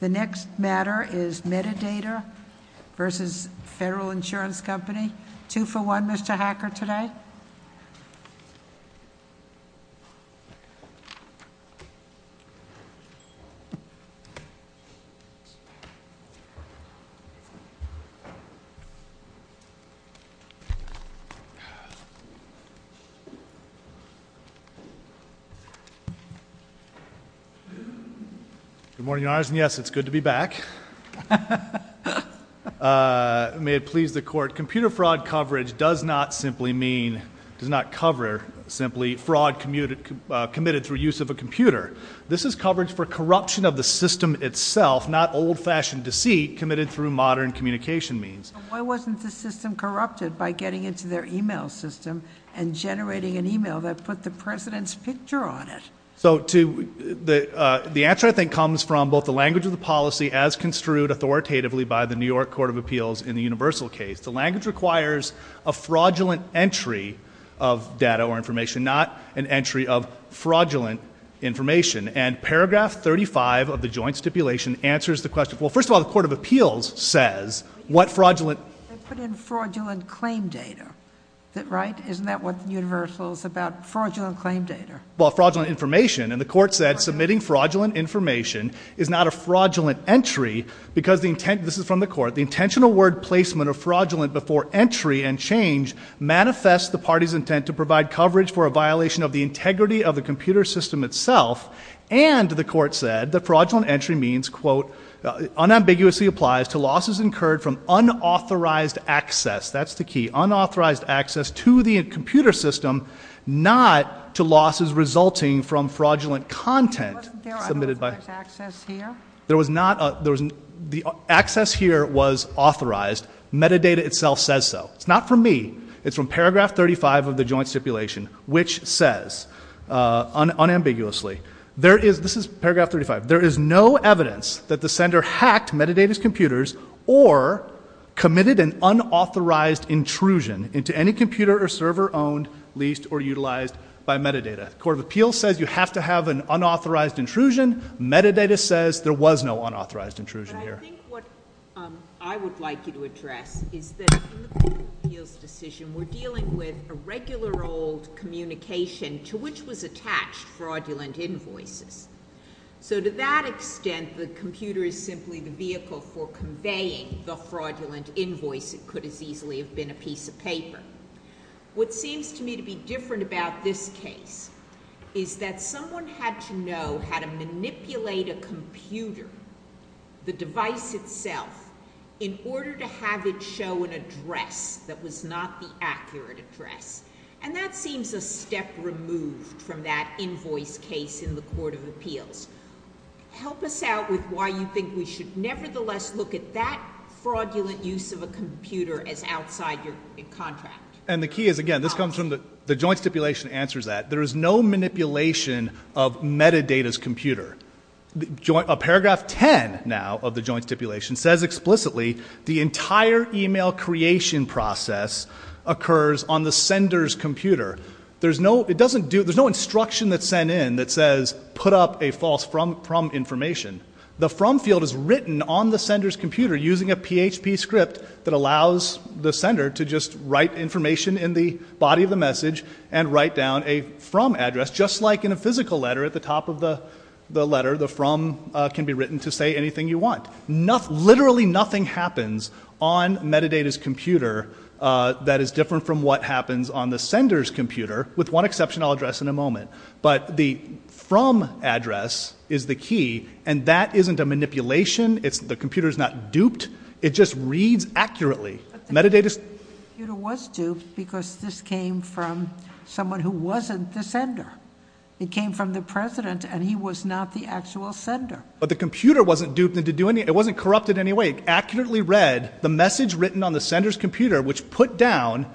The next matter is Medidata v. Federal Insurance Company. Two for one, Mr. Hacker, today. Good morning, Your Honors, and yes, it's good to be back. May it please the Court, computer fraud coverage does not simply mean, does not cover simply fraud committed through use of a computer. This is coverage for corruption of the system itself, not old-fashioned deceit committed through modern communication means. Why wasn't the system corrupted by getting into their email system and generating an email that put the President's picture on it? So to, the answer I think comes from both the language of the policy as construed authoritatively by the New York Court of Appeals in the universal case. The language requires a fraudulent entry of data or information, not an entry of fraudulent information. And paragraph 35 of the joint stipulation answers the question, well, first of all, the Court of Appeals says what fraudulent... They put in fraudulent claim data. Is that right? Isn't that what the universal is about, fraudulent claim data? Well, fraudulent information, and the Court said submitting fraudulent information is not a fraudulent entry because the intent, this is from the Court, the intentional word placement of fraudulent before entry and change manifests the party's intent to provide coverage for a violation of the integrity of the computer system itself. And the Court said that fraudulent entry means, quote, unambiguously applies to losses incurred from unauthorized access, that's the key, unauthorized access to the computer system, not to losses resulting from fraudulent content submitted by... Wasn't there access here? There was not. The access here was authorized. Metadata itself says so. It's not from me. It's from paragraph 35 of the joint stipulation, which says unambiguously, there is, this is paragraph 35, there is no evidence that the sender hacked Metadata's computers or committed an unauthorized intrusion into any computer or server owned, leased, or utilized by Metadata. The Court of Appeals says you have to have an unauthorized intrusion. Metadata says there was no unauthorized intrusion here. But I think what I would like you to address is that in the Court of Appeals decision, we're dealing with a regular old communication to which was attached fraudulent invoices. So to that extent, the computer is simply the vehicle for conveying the fraudulent invoice that could as easily have been a piece of paper. What seems to me to be different about this case is that someone had to know how to manipulate a computer, the device itself, in order to have it show an address that was not the accurate address. And that seems a step removed from that invoice case in the Court of Appeals. Help us out with why you think we should nevertheless look at that fraudulent use of a computer as outside your contract. And the key is, again, this comes from the Joint Stipulation answers that. There is no manipulation of Metadata's computer. A paragraph 10 now of the Joint Stipulation says explicitly the entire email creation process occurs on the sender's computer. There's no instruction that's sent in that says put up a false from information. The from field is written on the sender's computer using a PHP script that allows the sender to just write information in the body of the message and write down a from address, just like in a physical letter at the top of the letter, the from can be written to say anything you want. Literally nothing happens on Metadata's computer that is different from what happens on the sender's computer, with one exception I'll address in a moment. But the from address is the key, and that isn't a manipulation, the computer is not duped, it just reads accurately. Metadata's computer was duped because this came from someone who wasn't the sender. It came from the President and he was not the actual sender. But the computer wasn't duped, it wasn't corrupted in any way, it accurately read the message written on the sender's computer which put down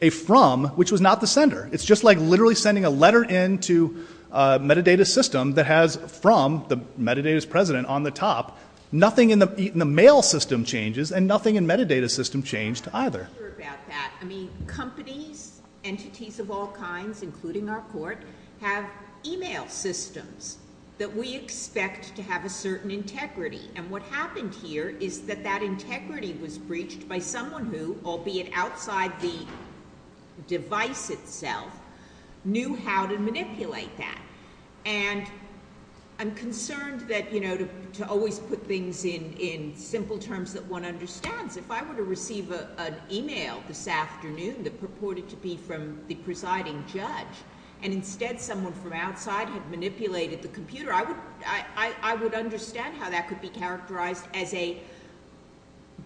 a from which was not the sender. It's just like literally sending a letter in to a Metadata system that has from, the Metadata's President, on the top. Nothing in the mail system changes and nothing in Metadata's system changed either. I'm not sure about that, I mean, companies, entities of all kinds, including our court, have email systems that we expect to have a certain integrity, and what happened here is that that integrity was breached by someone who, albeit outside the device itself, knew how to manipulate that. And I'm concerned that, you know, to always put things in simple terms that one understands, if I were to receive an email this afternoon that purported to be from the presiding judge, and instead someone from outside had manipulated the computer, I would understand how that could be characterized as a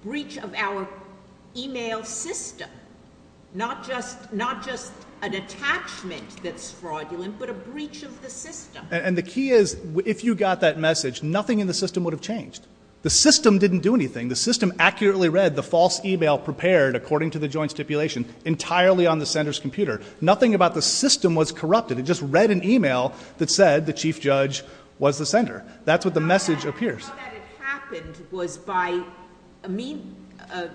breach of our email system. Not just an attachment that's fraudulent, but a breach of the system. And the key is, if you got that message, nothing in the system would have changed. The system didn't do anything. The system accurately read the false email prepared according to the joint stipulation entirely on the sender's computer. Nothing about the system was corrupted, it just read an email that said the chief judge was the sender. That's what the message appears. How that it happened was by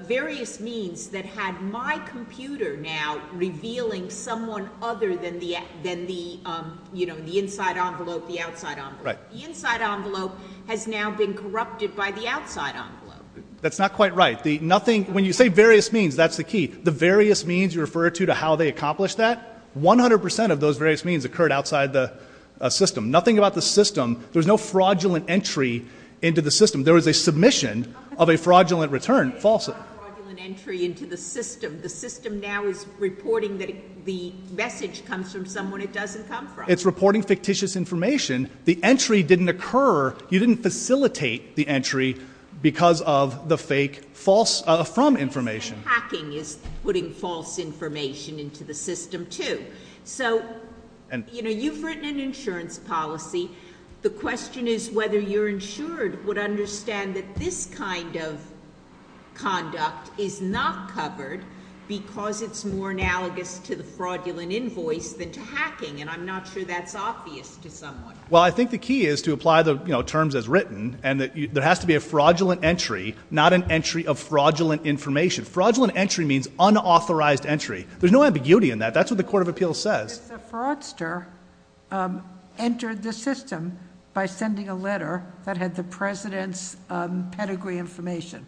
various means that had my computer now revealing someone other than the, you know, the inside envelope, the outside envelope. The inside envelope has now been corrupted by the outside envelope. That's not quite right. When you say various means, that's the key. The various means you refer to to how they accomplished that, 100% of those various means occurred outside the system. Nothing about the system, there's no fraudulent entry into the system. There was a submission of a fraudulent return, false. It's not fraudulent entry into the system. The system now is reporting that the message comes from someone it doesn't come from. It's reporting fictitious information. The entry didn't occur, you didn't facilitate the entry because of the fake false, from information. Hacking is putting false information into the system too. So, you know, you've written an insurance policy. The question is whether you're insured would understand that this kind of conduct is not covered because it's more analogous to the fraudulent invoice than to hacking and I'm not sure that's obvious to someone. Well, I think the key is to apply the, you know, terms as written and that there has to be a fraudulent entry, not an entry of fraudulent information. Fraudulent entry means unauthorized entry. There's no ambiguity in that. That's what the Court of Appeals says. If the fraudster entered the system by sending a letter that had the president's pedigree information,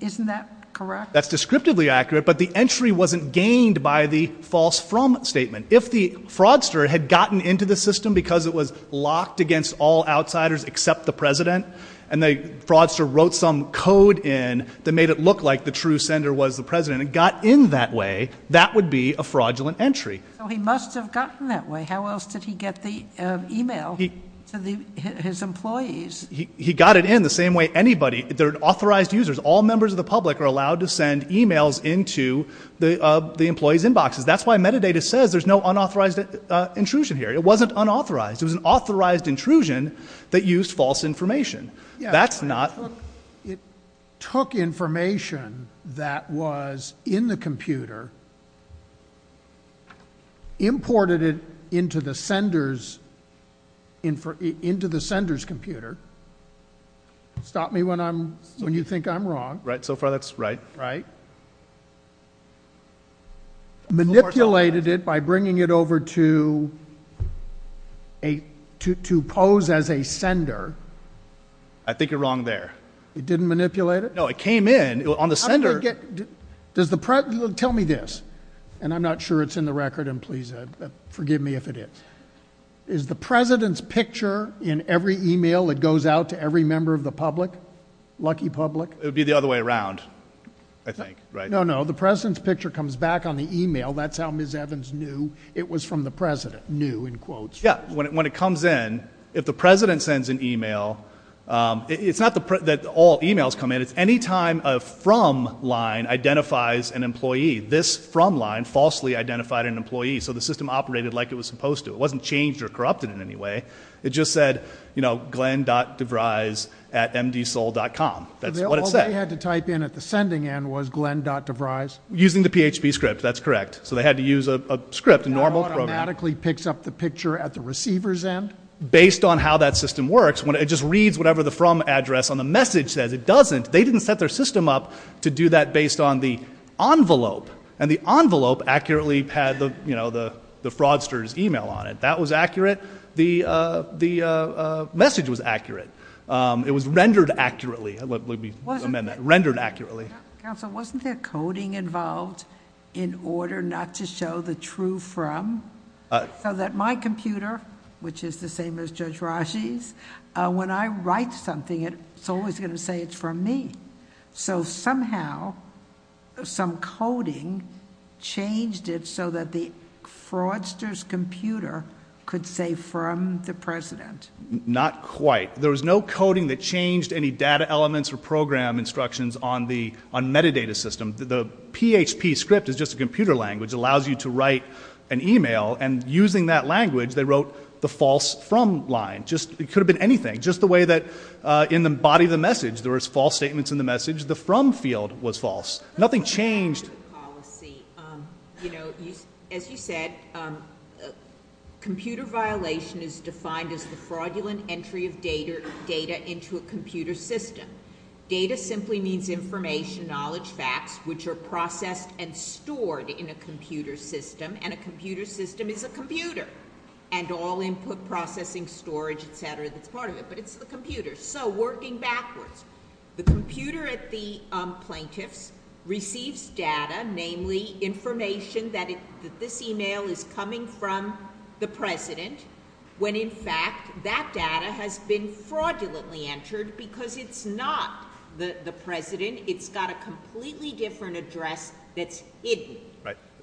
isn't that correct? That's descriptively accurate, but the entry wasn't gained by the false from statement. If the fraudster had gotten into the system because it was locked against all outsiders except the president and the fraudster wrote some code in that made it look like the true sender was the president and got in that way, that would be a fraudulent entry. So he must have gotten that way. How else did he get the email to his employees? He got it in the same way anybody, they're authorized users. All members of the public are allowed to send emails into the employee's inboxes. That's why metadata says there's no unauthorized intrusion here. It wasn't unauthorized. It was an authorized intrusion that used false information. It took information that was in the computer, imported it into the sender's computer—stop me when you think I'm wrong—manipulated it by bringing it over to pose as a sender I think you're wrong there. It didn't manipulate it? No, it came in on the sender. Tell me this, and I'm not sure it's in the record, and please forgive me if it is. Is the president's picture in every email that goes out to every member of the public, lucky public? It would be the other way around, I think, right? No, no. The president's picture comes back on the email. That's how Ms. Evans knew it was from the president, knew in quotes. When it comes in, if the president sends an email, it's not that all emails come in. It's any time a from line identifies an employee. This from line falsely identified an employee, so the system operated like it was supposed to. It wasn't changed or corrupted in any way. It just said, you know, glenn.deVrys at mdsoul.com. That's what it said. All they had to type in at the sending end was glenn.deVrys? Using the PHP script, that's correct. So they had to use a script, a normal program. It automatically picks up the picture at the receiver's end? Based on how that system works, it just reads whatever the from address on the message says. It doesn't. They didn't set their system up to do that based on the envelope, and the envelope accurately had the fraudster's email on it. That was accurate. The message was accurate. It was rendered accurately. Let me amend that. Rendered accurately. Counsel, wasn't there coding involved in order not to show the true from? So that my computer, which is the same as Judge Rasche's, when I write something, it's always going to say it's from me. So somehow, some coding changed it, so that the fraudster's computer could say from the President. Not quite. There was no coding that changed any data elements or program instructions on the metadata system. The PHP script is just a computer language, it allows you to write an email, and using that language, they wrote the false from line. It could have been anything. Just the way that in the body of the message, there was false statements in the message, the from field was false. Nothing changed. As you said, computer violation is defined as the fraudulent entry of data into a computer system. Data simply means information, knowledge, facts, which are processed and stored in a computer system, and a computer system is a computer. And all input processing, storage, etc., that's part of it, but it's the computer. So working backwards, the computer at the plaintiff's receives data, namely information that this email is coming from the President, when in fact, that data has been fraudulently entered because it's not the President. It's got a completely different address that's hidden.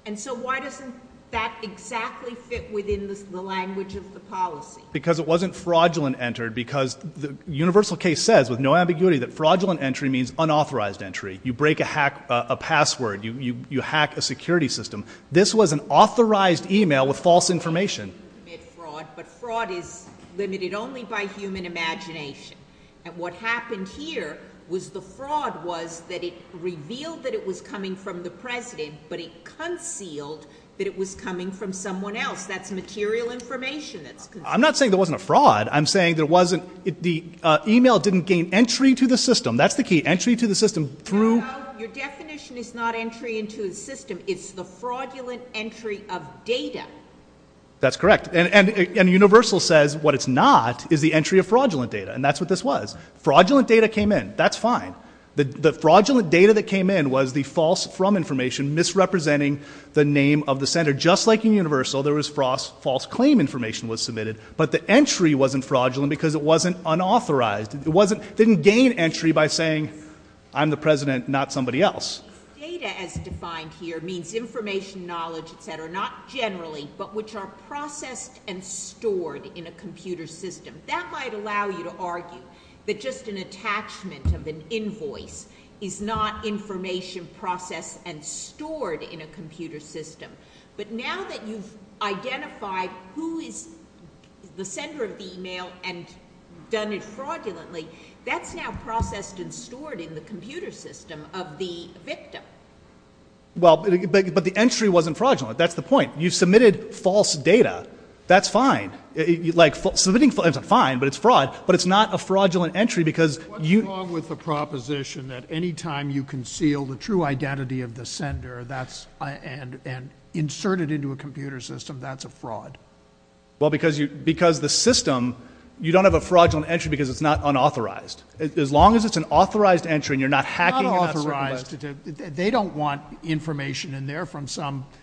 And so why doesn't that exactly fit within the language of the policy? Because it wasn't fraudulent entered, because the universal case says with no ambiguity that fraudulent entry means unauthorized entry. You break a password. You hack a security system. This was an authorized email with false information. But fraud is limited only by human imagination. And what happened here was the fraud was that it revealed that it was coming from the President, but it concealed that it was coming from someone else. That's material information that's concealed. I'm not saying there wasn't a fraud. I'm saying there wasn't, the email didn't gain entry to the system. That's the key. Entry to the system through... No, no. Your definition is not entry into the system. It's the fraudulent entry of data. That's correct. And universal says what it's not is the entry of fraudulent data. And that's what this was. Fraudulent data came in. That's fine. The fraudulent data that came in was the false from information misrepresenting the name of the center. Just like in universal, there was false claim information was submitted, but the entry wasn't fraudulent because it wasn't unauthorized. It didn't gain entry by saying, I'm the President, not somebody else. Data as defined here means information, knowledge, et cetera, not generally, but which are processed and stored in a computer system. That might allow you to argue that just an attachment of an invoice is not information processed and stored in a computer system. But now that you've identified who is the sender of the email and done it fraudulently, that's now processed and stored in the computer system of the victim. But the entry wasn't fraudulent. That's the point. You've submitted false data. That's fine. Submitting false data is fine, but it's fraud. But it's not a fraudulent entry because you- What's wrong with the proposition that any time you conceal the true identity of the sender and insert it into a computer system, that's a fraud? Well, because the system, you don't have a fraudulent entry because it's not unauthorized. As long as it's an authorized entry and you're not hacking- Not authorized. They don't want information in there from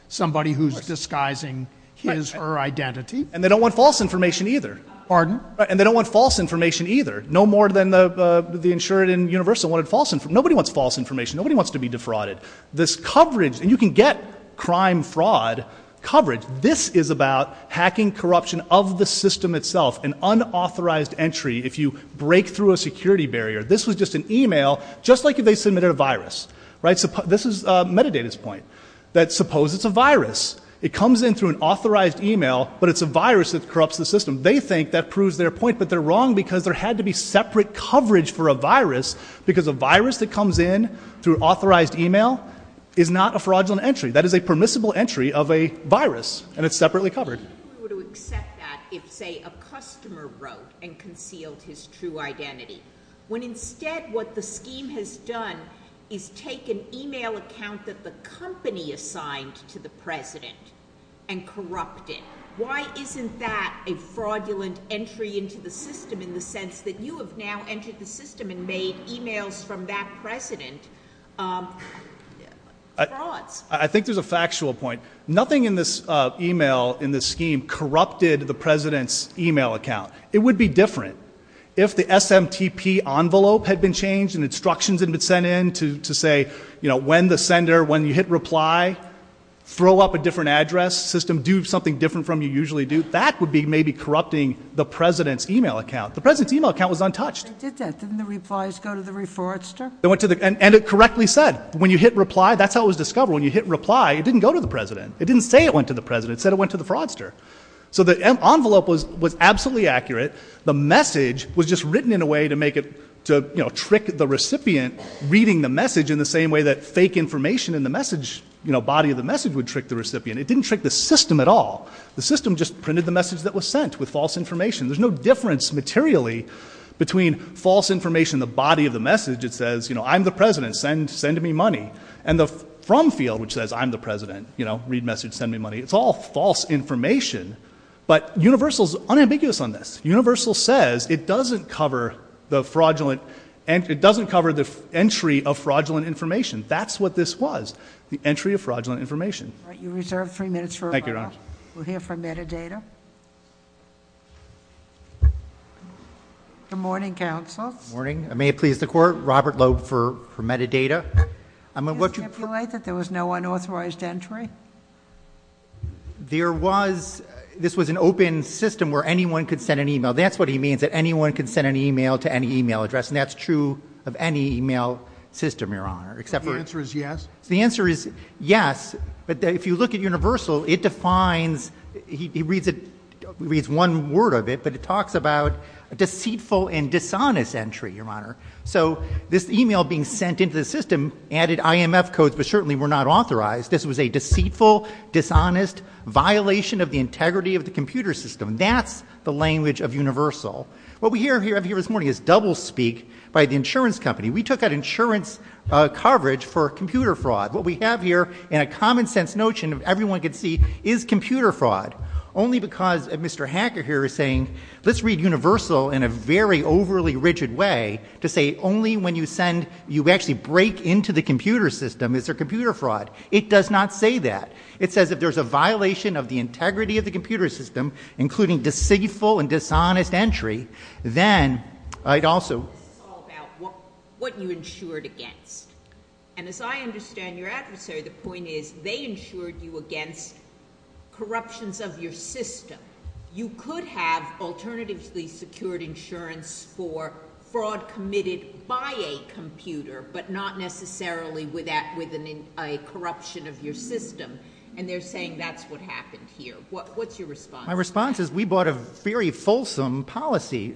somebody who's disguising his or her identity. And they don't want false information either. Pardon? And they don't want false information either. No more than the insured and universal wanted false information. Nobody wants false information. Nobody wants to be defrauded. This coverage, and you can get crime fraud coverage. This is about hacking corruption of the system itself, an unauthorized entry if you break through a security barrier. This was just an email, just like if they submitted a virus. This is Metadata's point, that suppose it's a virus. It comes in through an authorized email, but it's a virus that corrupts the system. They think that proves their point, but they're wrong because there had to be separate coverage for a virus because a virus that comes in through authorized email is not a fraudulent entry. That is a permissible entry of a virus, and it's separately covered. I wouldn't be able to accept that if, say, a customer wrote and concealed his true identity, when instead what the scheme has done is take an email account that the company assigned to the president and corrupt it. Why isn't that a fraudulent entry into the system in the sense that you have now entered the system and made emails from that president frauds? I think there's a factual point. Nothing in this email, in this scheme, corrupted the president's email account. It would be different. If the SMTP envelope had been changed and instructions had been sent in to say, you know, when the sender, when you hit reply, throw up a different address system, do something different from you usually do, that would be maybe corrupting the president's email account. The president's email account was untouched. They did that. Didn't the replies go to the fraudster? They went to the, and it correctly said. When you hit reply, that's how it was discovered. When you hit reply, it didn't go to the president. It didn't say it went to the president. It said it went to the fraudster. So the envelope was absolutely accurate. The message was just written in a way to make it, to, you know, trick the recipient reading the message in the same way that fake information in the message, you know, body of the message would trick the recipient. It didn't trick the system at all. The system just printed the message that was sent with false information. There's no difference materially between false information, the body of the message. It says, you know, I'm the president, send, send me money. And the from field, which says I'm the president, you know, read message, send me money. It's all false information. But Universal's unambiguous on this. Universal says it doesn't cover the fraudulent and it doesn't cover the entry of fraudulent information. That's what this was. The entry of fraudulent information. You reserved three minutes. Thank you. Thank you, Your Honor. We'll hear from metadata. Good morning, counsel. Morning. May it please the court, Robert Loeb for, for metadata. I mean, what do you feel like that there was no unauthorized entry? There was, this was an open system where anyone could send an email. That's what he means that anyone can send an email to any email address and that's true of any email system, Your Honor, except for answer is yes. The answer is yes. But if you look at Universal, it defines, he reads it, reads one word of it, but it talks about a deceitful and dishonest entry, Your Honor. So this email being sent into the system added IMF codes, but certainly were not authorized. This was a deceitful, dishonest violation of the integrity of the computer system. That's the language of Universal. What we hear here this morning is doublespeak by the insurance company. We took out insurance coverage for computer fraud. What we have here in a common sense notion of everyone can see is computer fraud only because Mr. Hacker here is saying, let's read Universal in a very overly rigid way to say only when you send, you actually break into the computer system is there computer fraud. It does not say that. It says if there's a violation of the integrity of the computer system, including deceitful and dishonest entry, then I'd also, This is all about what you insured against. And as I understand your adversary, the point is they insured you against corruptions of your system. You could have alternatively secured insurance for fraud committed by a computer, but not necessarily with that, with an, a corruption of your system. And they're saying that's what happened here. What, what's your response? My response is we bought a very fulsome policy,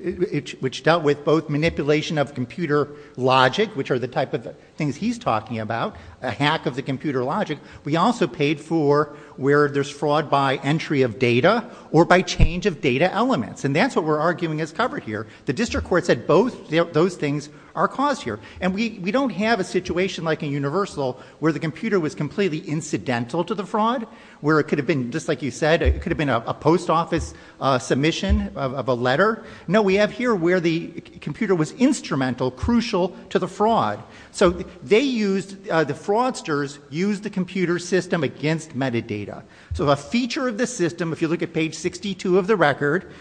which dealt with both manipulation of computer logic, which are the type of things he's talking about, a hack of the computer logic. We also paid for where there's fraud by entry of data or by change of data elements. And that's what we're arguing is covered here. The district court said both those things are caused here. And we, we don't have a situation like a universal where the computer was completely incidental to the fraud, where it could have been just like you said, it could have been a post office submission of a letter. No, we have here where the computer was instrumental, crucial to the fraud. So they used the fraudsters use the computer system against metadata. So a feature of the system, if you look at page 62 of the record,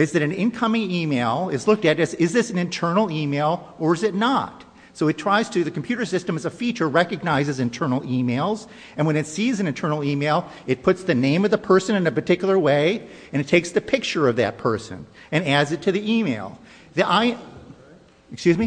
is that an incoming email is looked at as, is this an internal email or is it not? So it tries to, the computer system is a feature recognizes internal emails. And when it sees an internal email, it puts the name of the person in a particular way and it takes the picture of that person and adds it to the email. The I, excuse me,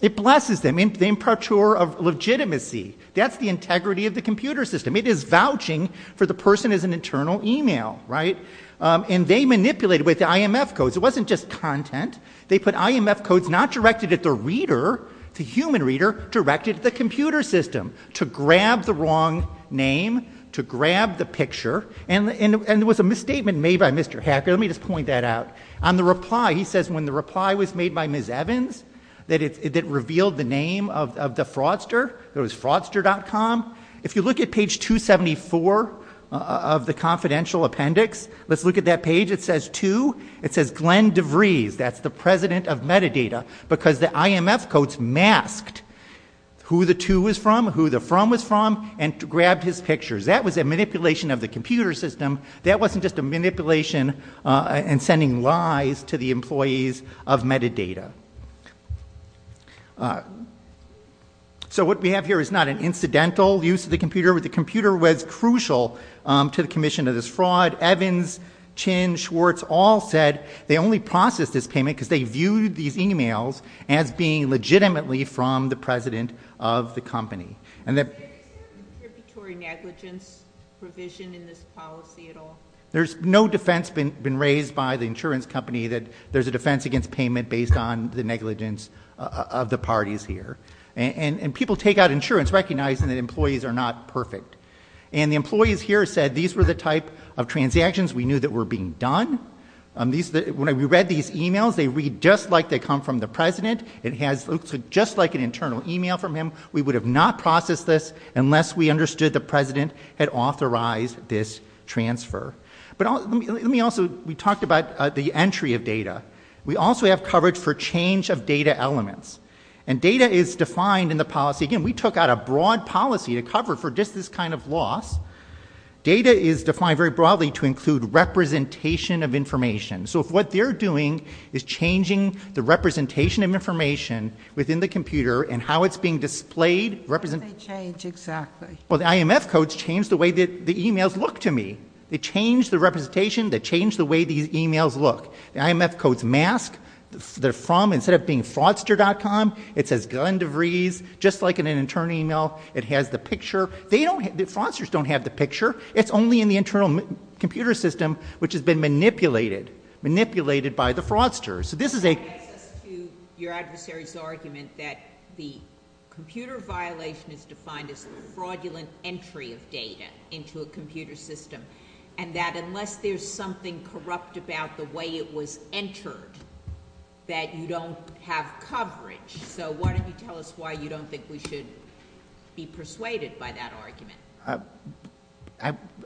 it blesses them in the imparture of legitimacy. That's the integrity of the computer system. It is vouching for the person as an internal email, right? Um, and they manipulated with the IMF codes. It wasn't just content. They put IMF codes, not directed at the reader, the human reader directed the computer system to grab the wrong name, to grab the picture. And there was a misstatement made by Mr. Hacker. Let me just point that out. On the reply, he says when the reply was made by Ms. Evans, that it revealed the name of the fraudster, it was fraudster.com. If you look at page 274 of the confidential appendix, let's look at that page. It says two, it says Glenn DeVries. That's the president of metadata because the IMF codes masked who the two was from, who the from was from, and grabbed his pictures. That was a manipulation of the computer system. That wasn't just a manipulation and sending lies to the employees of metadata. So what we have here is not an incidental use of the computer, but the computer was crucial to the commission of this fraud. Evans, Chin, Schwartz all said they only processed this payment because they viewed these emails as being legitimately from the president of the company. And that- Is there contributory negligence provision in this policy at all? There's no defense been raised by the insurance company that there's a defense against payment based on the negligence of the parties here. And people take out insurance recognizing that employees are not perfect. And the employees here said these were the type of transactions we knew that were being done. When we read these emails, they read just like they come from the president. It has looked just like an internal email from him. We would have not processed this unless we understood the president had authorized this transfer. But let me also, we talked about the entry of data. We also have coverage for change of data elements. And data is defined in the policy. Again, we took out a broad policy to cover for just this kind of loss. Data is defined very broadly to include representation of information. So if what they're doing is changing the representation of information within the computer and how it's being displayed- How do they change, exactly? Well, the IMF codes change the way that the emails look to me. They change the representation, they change the way these emails look. The IMF codes mask, they're from, instead of being fraudster.com, it says Glenn DeVries, just like an internal email, it has the picture. Fraudsters don't have the picture. It's only in the internal computer system, which has been manipulated by the fraudster. So this is a- It gets us to your adversary's argument that the computer violation is defined as the fraudulent entry of data into a computer system. And that unless there's something corrupt about the way it was entered, that you don't have coverage. So why don't you tell us why you don't think we should be persuaded by that argument?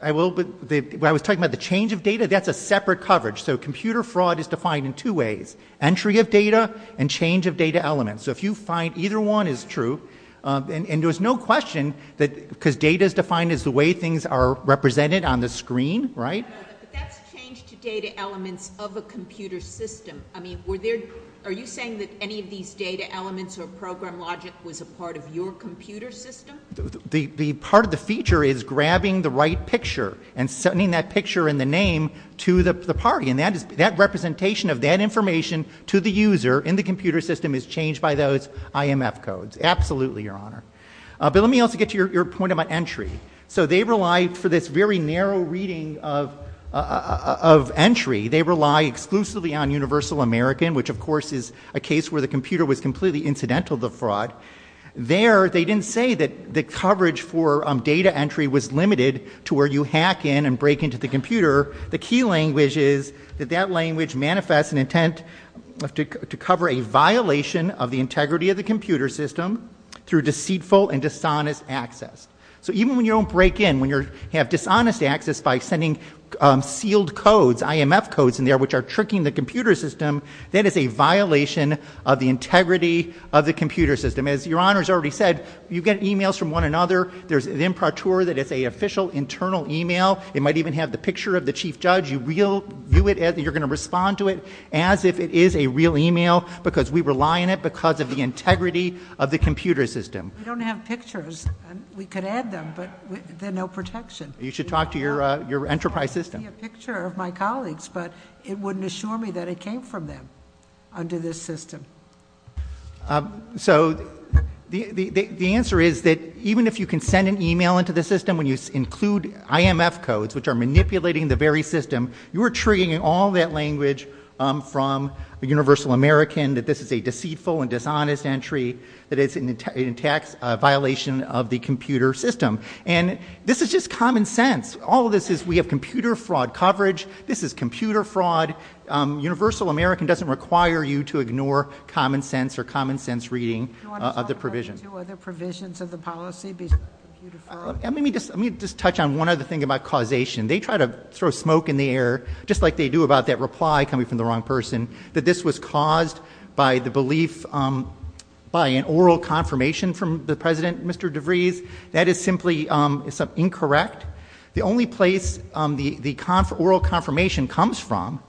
I will, but what I was talking about, the change of data, that's a separate coverage. So computer fraud is defined in two ways. Entry of data and change of data elements. So if you find either one is true, and there's no question that, because data is defined as the way things are represented on the screen, right? But that's change to data elements of a computer system. I mean, were there, are you saying that any of these data elements or program logic was a part of your computer system? The part of the feature is grabbing the right picture and sending that picture and the name to the party. And that is, that representation of that information to the user in the computer system is changed by those IMF codes. Absolutely, Your Honor. But let me also get to your point about entry. So they rely, for this very narrow reading of entry, they rely exclusively on Universal American, which of course is a case where the computer was completely incidental to fraud. There, they didn't say that the coverage for data entry was limited to where you hack in and break into the computer. The key language is that that language manifests an intent to cover a violation of the integrity of the computer system through deceitful and dishonest access. So even when you don't break in, when you have dishonest access by sending sealed codes, IMF codes in there, which are tricking the computer system, that is a violation of the integrity of the computer system. As Your Honor's already said, you get emails from one another. There's an imprature that it's an official internal email. It might even have the picture of the chief judge. You view it as you're going to respond to it as if it is a real email because we rely on it because of the integrity of the computer system. We don't have pictures. We could add them, but there's no protection. You should talk to your enterprise system. It might be a picture of my colleagues, but it wouldn't assure me that it came from them under this system. So the answer is that even if you can send an email into the system when you include IMF codes, which are manipulating the very system, you are triggering all that language from a universal American that this is a deceitful and dishonest entry, that it's an intact violation of the computer system. And this is just common sense. All of this is we have computer fraud coverage. This is computer fraud. Universal American doesn't require you to ignore common sense or common sense reading of the provision. Do you want to talk about the two other provisions of the policy, computer fraud? Let me just touch on one other thing about causation. They try to throw smoke in the air, just like they do about that reply coming from the wrong person, that this was caused by the belief, by an oral confirmation from the president, Mr. DeVries. That is simply incorrect. The only place the oral confirmation comes from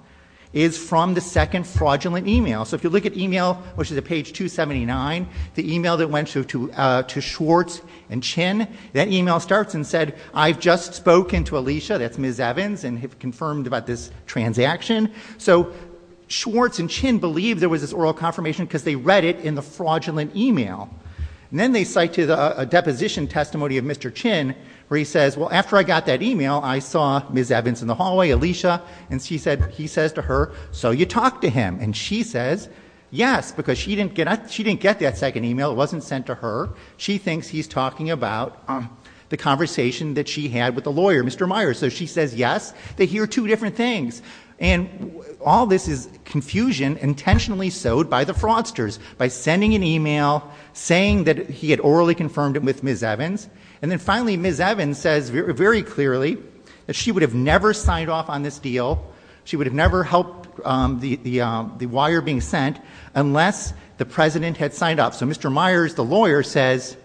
is from the second fraudulent email. So if you look at email, which is at page 279, the email that went to Schwartz and Chin, that email starts and said, I've just spoken to Alicia, that's Ms. Evans, and have confirmed about this transaction. So Schwartz and Chin believe there was this oral confirmation because they read it in the fraudulent email. And then they cite a deposition testimony of Mr. Chin where he says, well, after I got that email, I saw Ms. Evans in the hallway, Alicia, and she said, he says to her, so you talk to him. And she says yes, because she didn't get that second email, it wasn't sent to her. She thinks he's talking about the conversation that she had with the lawyer, Mr. Myers. So she says yes. They hear two different things. And all this is confusion intentionally sowed by the fraudsters by sending an email saying that he had orally confirmed it with Ms. Evans. And then finally, Ms. Evans says very clearly that she would have never signed off on this deal. She would have never helped the wire being sent unless the president had signed off. So Mr. Myers, the lawyer, says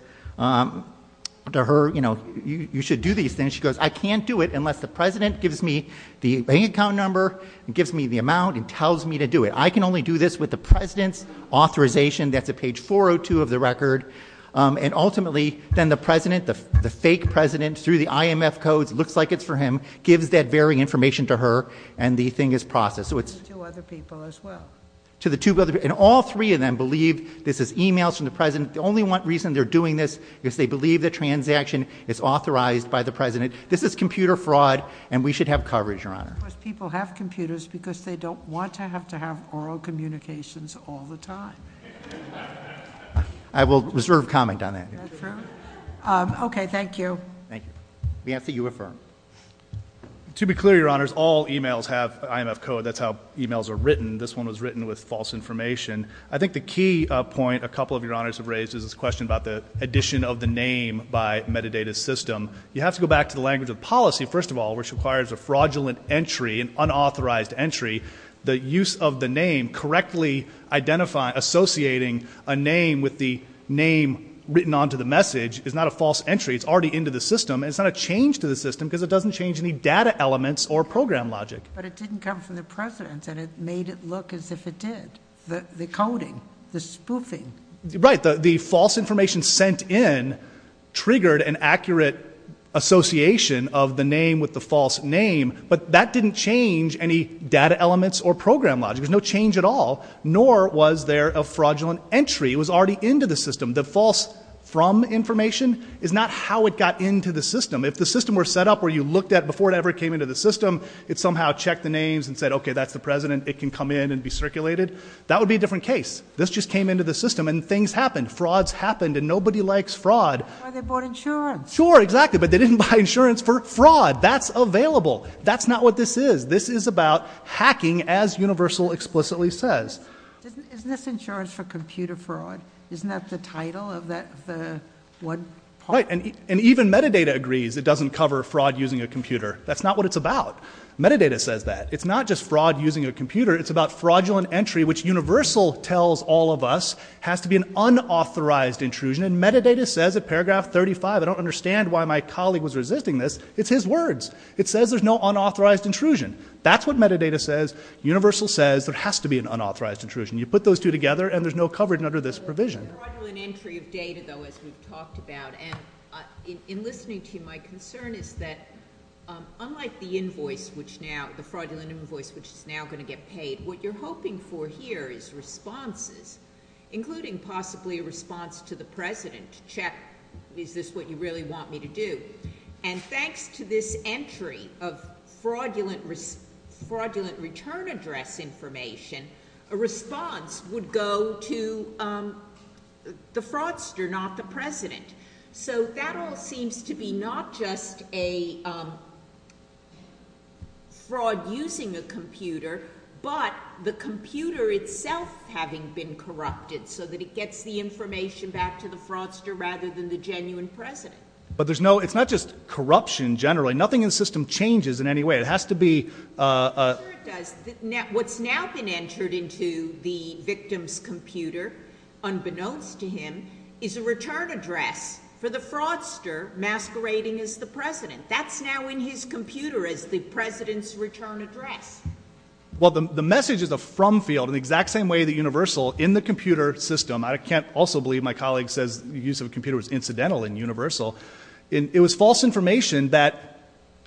to her, you know, you should do these things. And she goes, I can't do it unless the president gives me the bank account number and gives me the amount and tells me to do it. I can only do this with the president's authorization. That's at page 402 of the record. And ultimately, then the president, the fake president, through the IMF codes, looks like it's for him, gives that varying information to her, and the thing is processed. So it's... To other people as well. To the two other... And all three of them believe this is emails from the president. The only one reason they're doing this is they believe the transaction is authorized by the president. This is computer fraud, and we should have coverage, Your Honor. Of course, people have computers because they don't want to have to have oral communications all the time. I will reserve comment on that. Is that true? Okay. Thank you. Thank you. Vance, you affirm. To be clear, Your Honors, all emails have IMF code. That's how emails are written. This one was written with false information. I think the key point a couple of Your Honors have raised is this question about the addition of the name by metadata system. You have to go back to the language of policy, first of all, which requires a fraudulent entry, an unauthorized entry. The use of the name, correctly associating a name with the name written onto the message is not a false entry. It's already into the system. It's not a change to the system because it doesn't change any data elements or program logic. But it didn't come from the president, and it made it look as if it did, the coding, the spoofing. Right. The false information sent in triggered an accurate association of the name with the false name, but that didn't change any data elements or program logic. There's no change at all, nor was there a fraudulent entry. It was already into the system. The false from information is not how it got into the system. If the system were set up where you looked at before it ever came into the system, it somehow checked the names and said, okay, that's the president. It can come in and be circulated. That would be a different case. This just came into the system, and things happened. Frauds happened, and nobody likes fraud. Or they bought insurance. Sure, exactly. But they didn't buy insurance for fraud. That's available. That's not what this is. This is about hacking, as Universal explicitly says. Isn't this insurance for computer fraud? Isn't that the title of the one part? Right. And even metadata agrees it doesn't cover fraud using a computer. That's not what it's about. Metadata says that. It's not just fraud using a computer. It's about fraudulent entry, which Universal tells all of us has to be an unauthorized intrusion. And metadata says at paragraph 35, I don't understand why my colleague was resisting this. It's his words. It says there's no unauthorized intrusion. That's what metadata says. Universal says there has to be an unauthorized intrusion. You put those two together, and there's no coverage under this provision. Fraudulent entry of data, though, as we've talked about. In listening to you, my concern is that unlike the invoice, which now, the fraudulent invoice, which is now going to get paid, what you're hoping for here is responses, including possibly a response to the president to check, is this what you really want me to do? And thanks to this entry of fraudulent return address information, a response would go to the president. So that all seems to be not just a fraud using a computer, but the computer itself having been corrupted, so that it gets the information back to the fraudster rather than the genuine president. But there's no, it's not just corruption generally. Nothing in the system changes in any way. It has to be... I'm sure it does. What's now been entered into the victim's computer, unbeknownst to him, is a return address for the fraudster masquerading as the president. That's now in his computer as the president's return address. Well, the message is a from field, in the exact same way that Universal, in the computer system. I can't also believe my colleague says the use of a computer was incidental in Universal. It was false information that,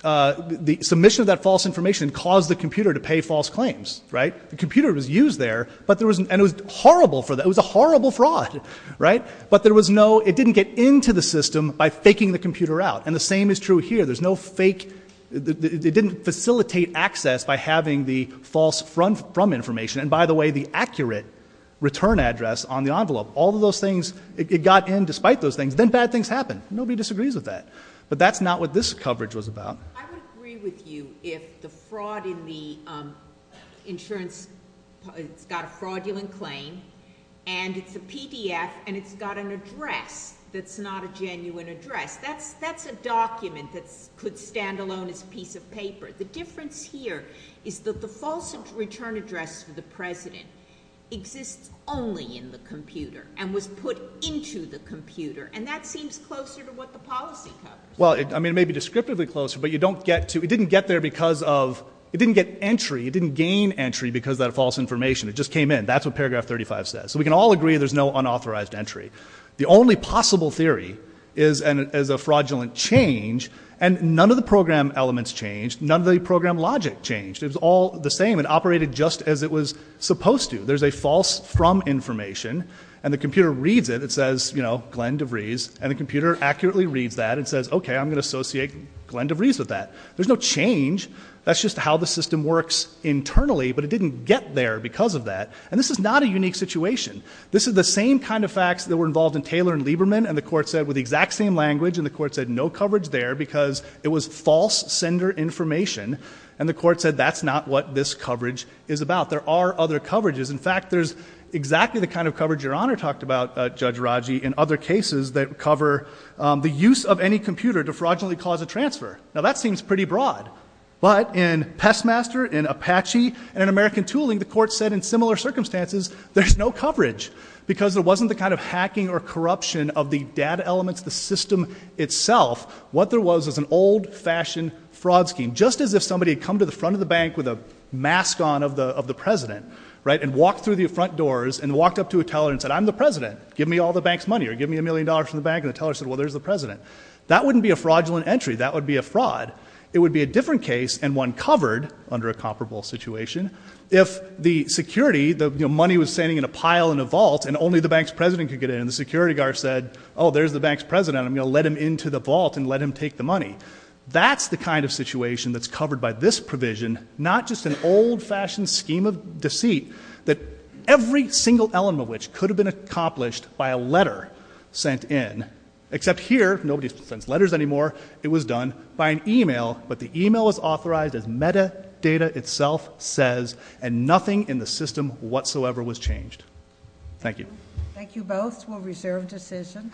the submission of that false information caused the computer to pay false claims. Right? The computer was used there, but there was, and it was horrible for them, it was a horrible fraud. Right? But there was no, it didn't get into the system by faking the computer out. And the same is true here. There's no fake, it didn't facilitate access by having the false from information. And by the way, the accurate return address on the envelope, all of those things, it got in despite those things. Then bad things happen. Nobody disagrees with that. But that's not what this coverage was about. I would agree with you if the fraud in the insurance, it's got a fraudulent claim and it's a PDF and it's got an address that's not a genuine address. That's, that's a document that's could stand alone as a piece of paper. The difference here is that the false return address for the president exists only in the computer and was put into the computer. And that seems closer to what the policy covers. Well, I mean, it may be descriptively closer, but you don't get to, it didn't get there because of, it didn't get entry, it didn't gain entry because of that false information. It just came in. That's what paragraph 35 says. So we can all agree there's no unauthorized entry. The only possible theory is, and as a fraudulent change and none of the program elements changed, none of the program logic changed. It was all the same and operated just as it was supposed to. There's a false from information and the computer reads it. It says, you know, Glenn DeVries and the computer accurately reads that and says, okay, I'm going to associate Glenn DeVries with that. There's no change. That's just how the system works internally, but it didn't get there because of that. And this is not a unique situation. This is the same kind of facts that were involved in Taylor and Lieberman and the court said with the exact same language and the court said no coverage there because it was false sender information. And the court said, that's not what this coverage is about. There are other coverages. In fact, there's exactly the kind of coverage Your Honor talked about, Judge Raji, in other cases that cover the use of any computer to fraudulently cause a transfer. Now that seems pretty broad, but in Pestmaster, in Apache, and in American Tooling, the court said in similar circumstances, there's no coverage because there wasn't the kind of hacking or corruption of the data elements, the system itself. What there was was an old-fashioned fraud scheme, just as if somebody had come to the front of the bank with a mask on of the president, right? And walked through the front doors and walked up to a teller and said, I'm the president. Give me all the bank's money, or give me a million dollars from the bank. And the teller said, well, there's the president. That wouldn't be a fraudulent entry. That would be a fraud. It would be a different case and one covered under a comparable situation. If the security, the money was standing in a pile in a vault and only the bank's president could get in. And the security guard said, oh, there's the bank's president, I'm going to let him into the vault and let him take the money. That's the kind of situation that's covered by this provision, not just an old-fashioned scheme of deceit, that every single element of which could have been accomplished by a letter sent in. Except here, nobody sends letters anymore. It was done by an email, but the email was authorized as metadata itself says, and nothing in the system whatsoever was changed. Thank you. Thank you both. We'll reserve decision.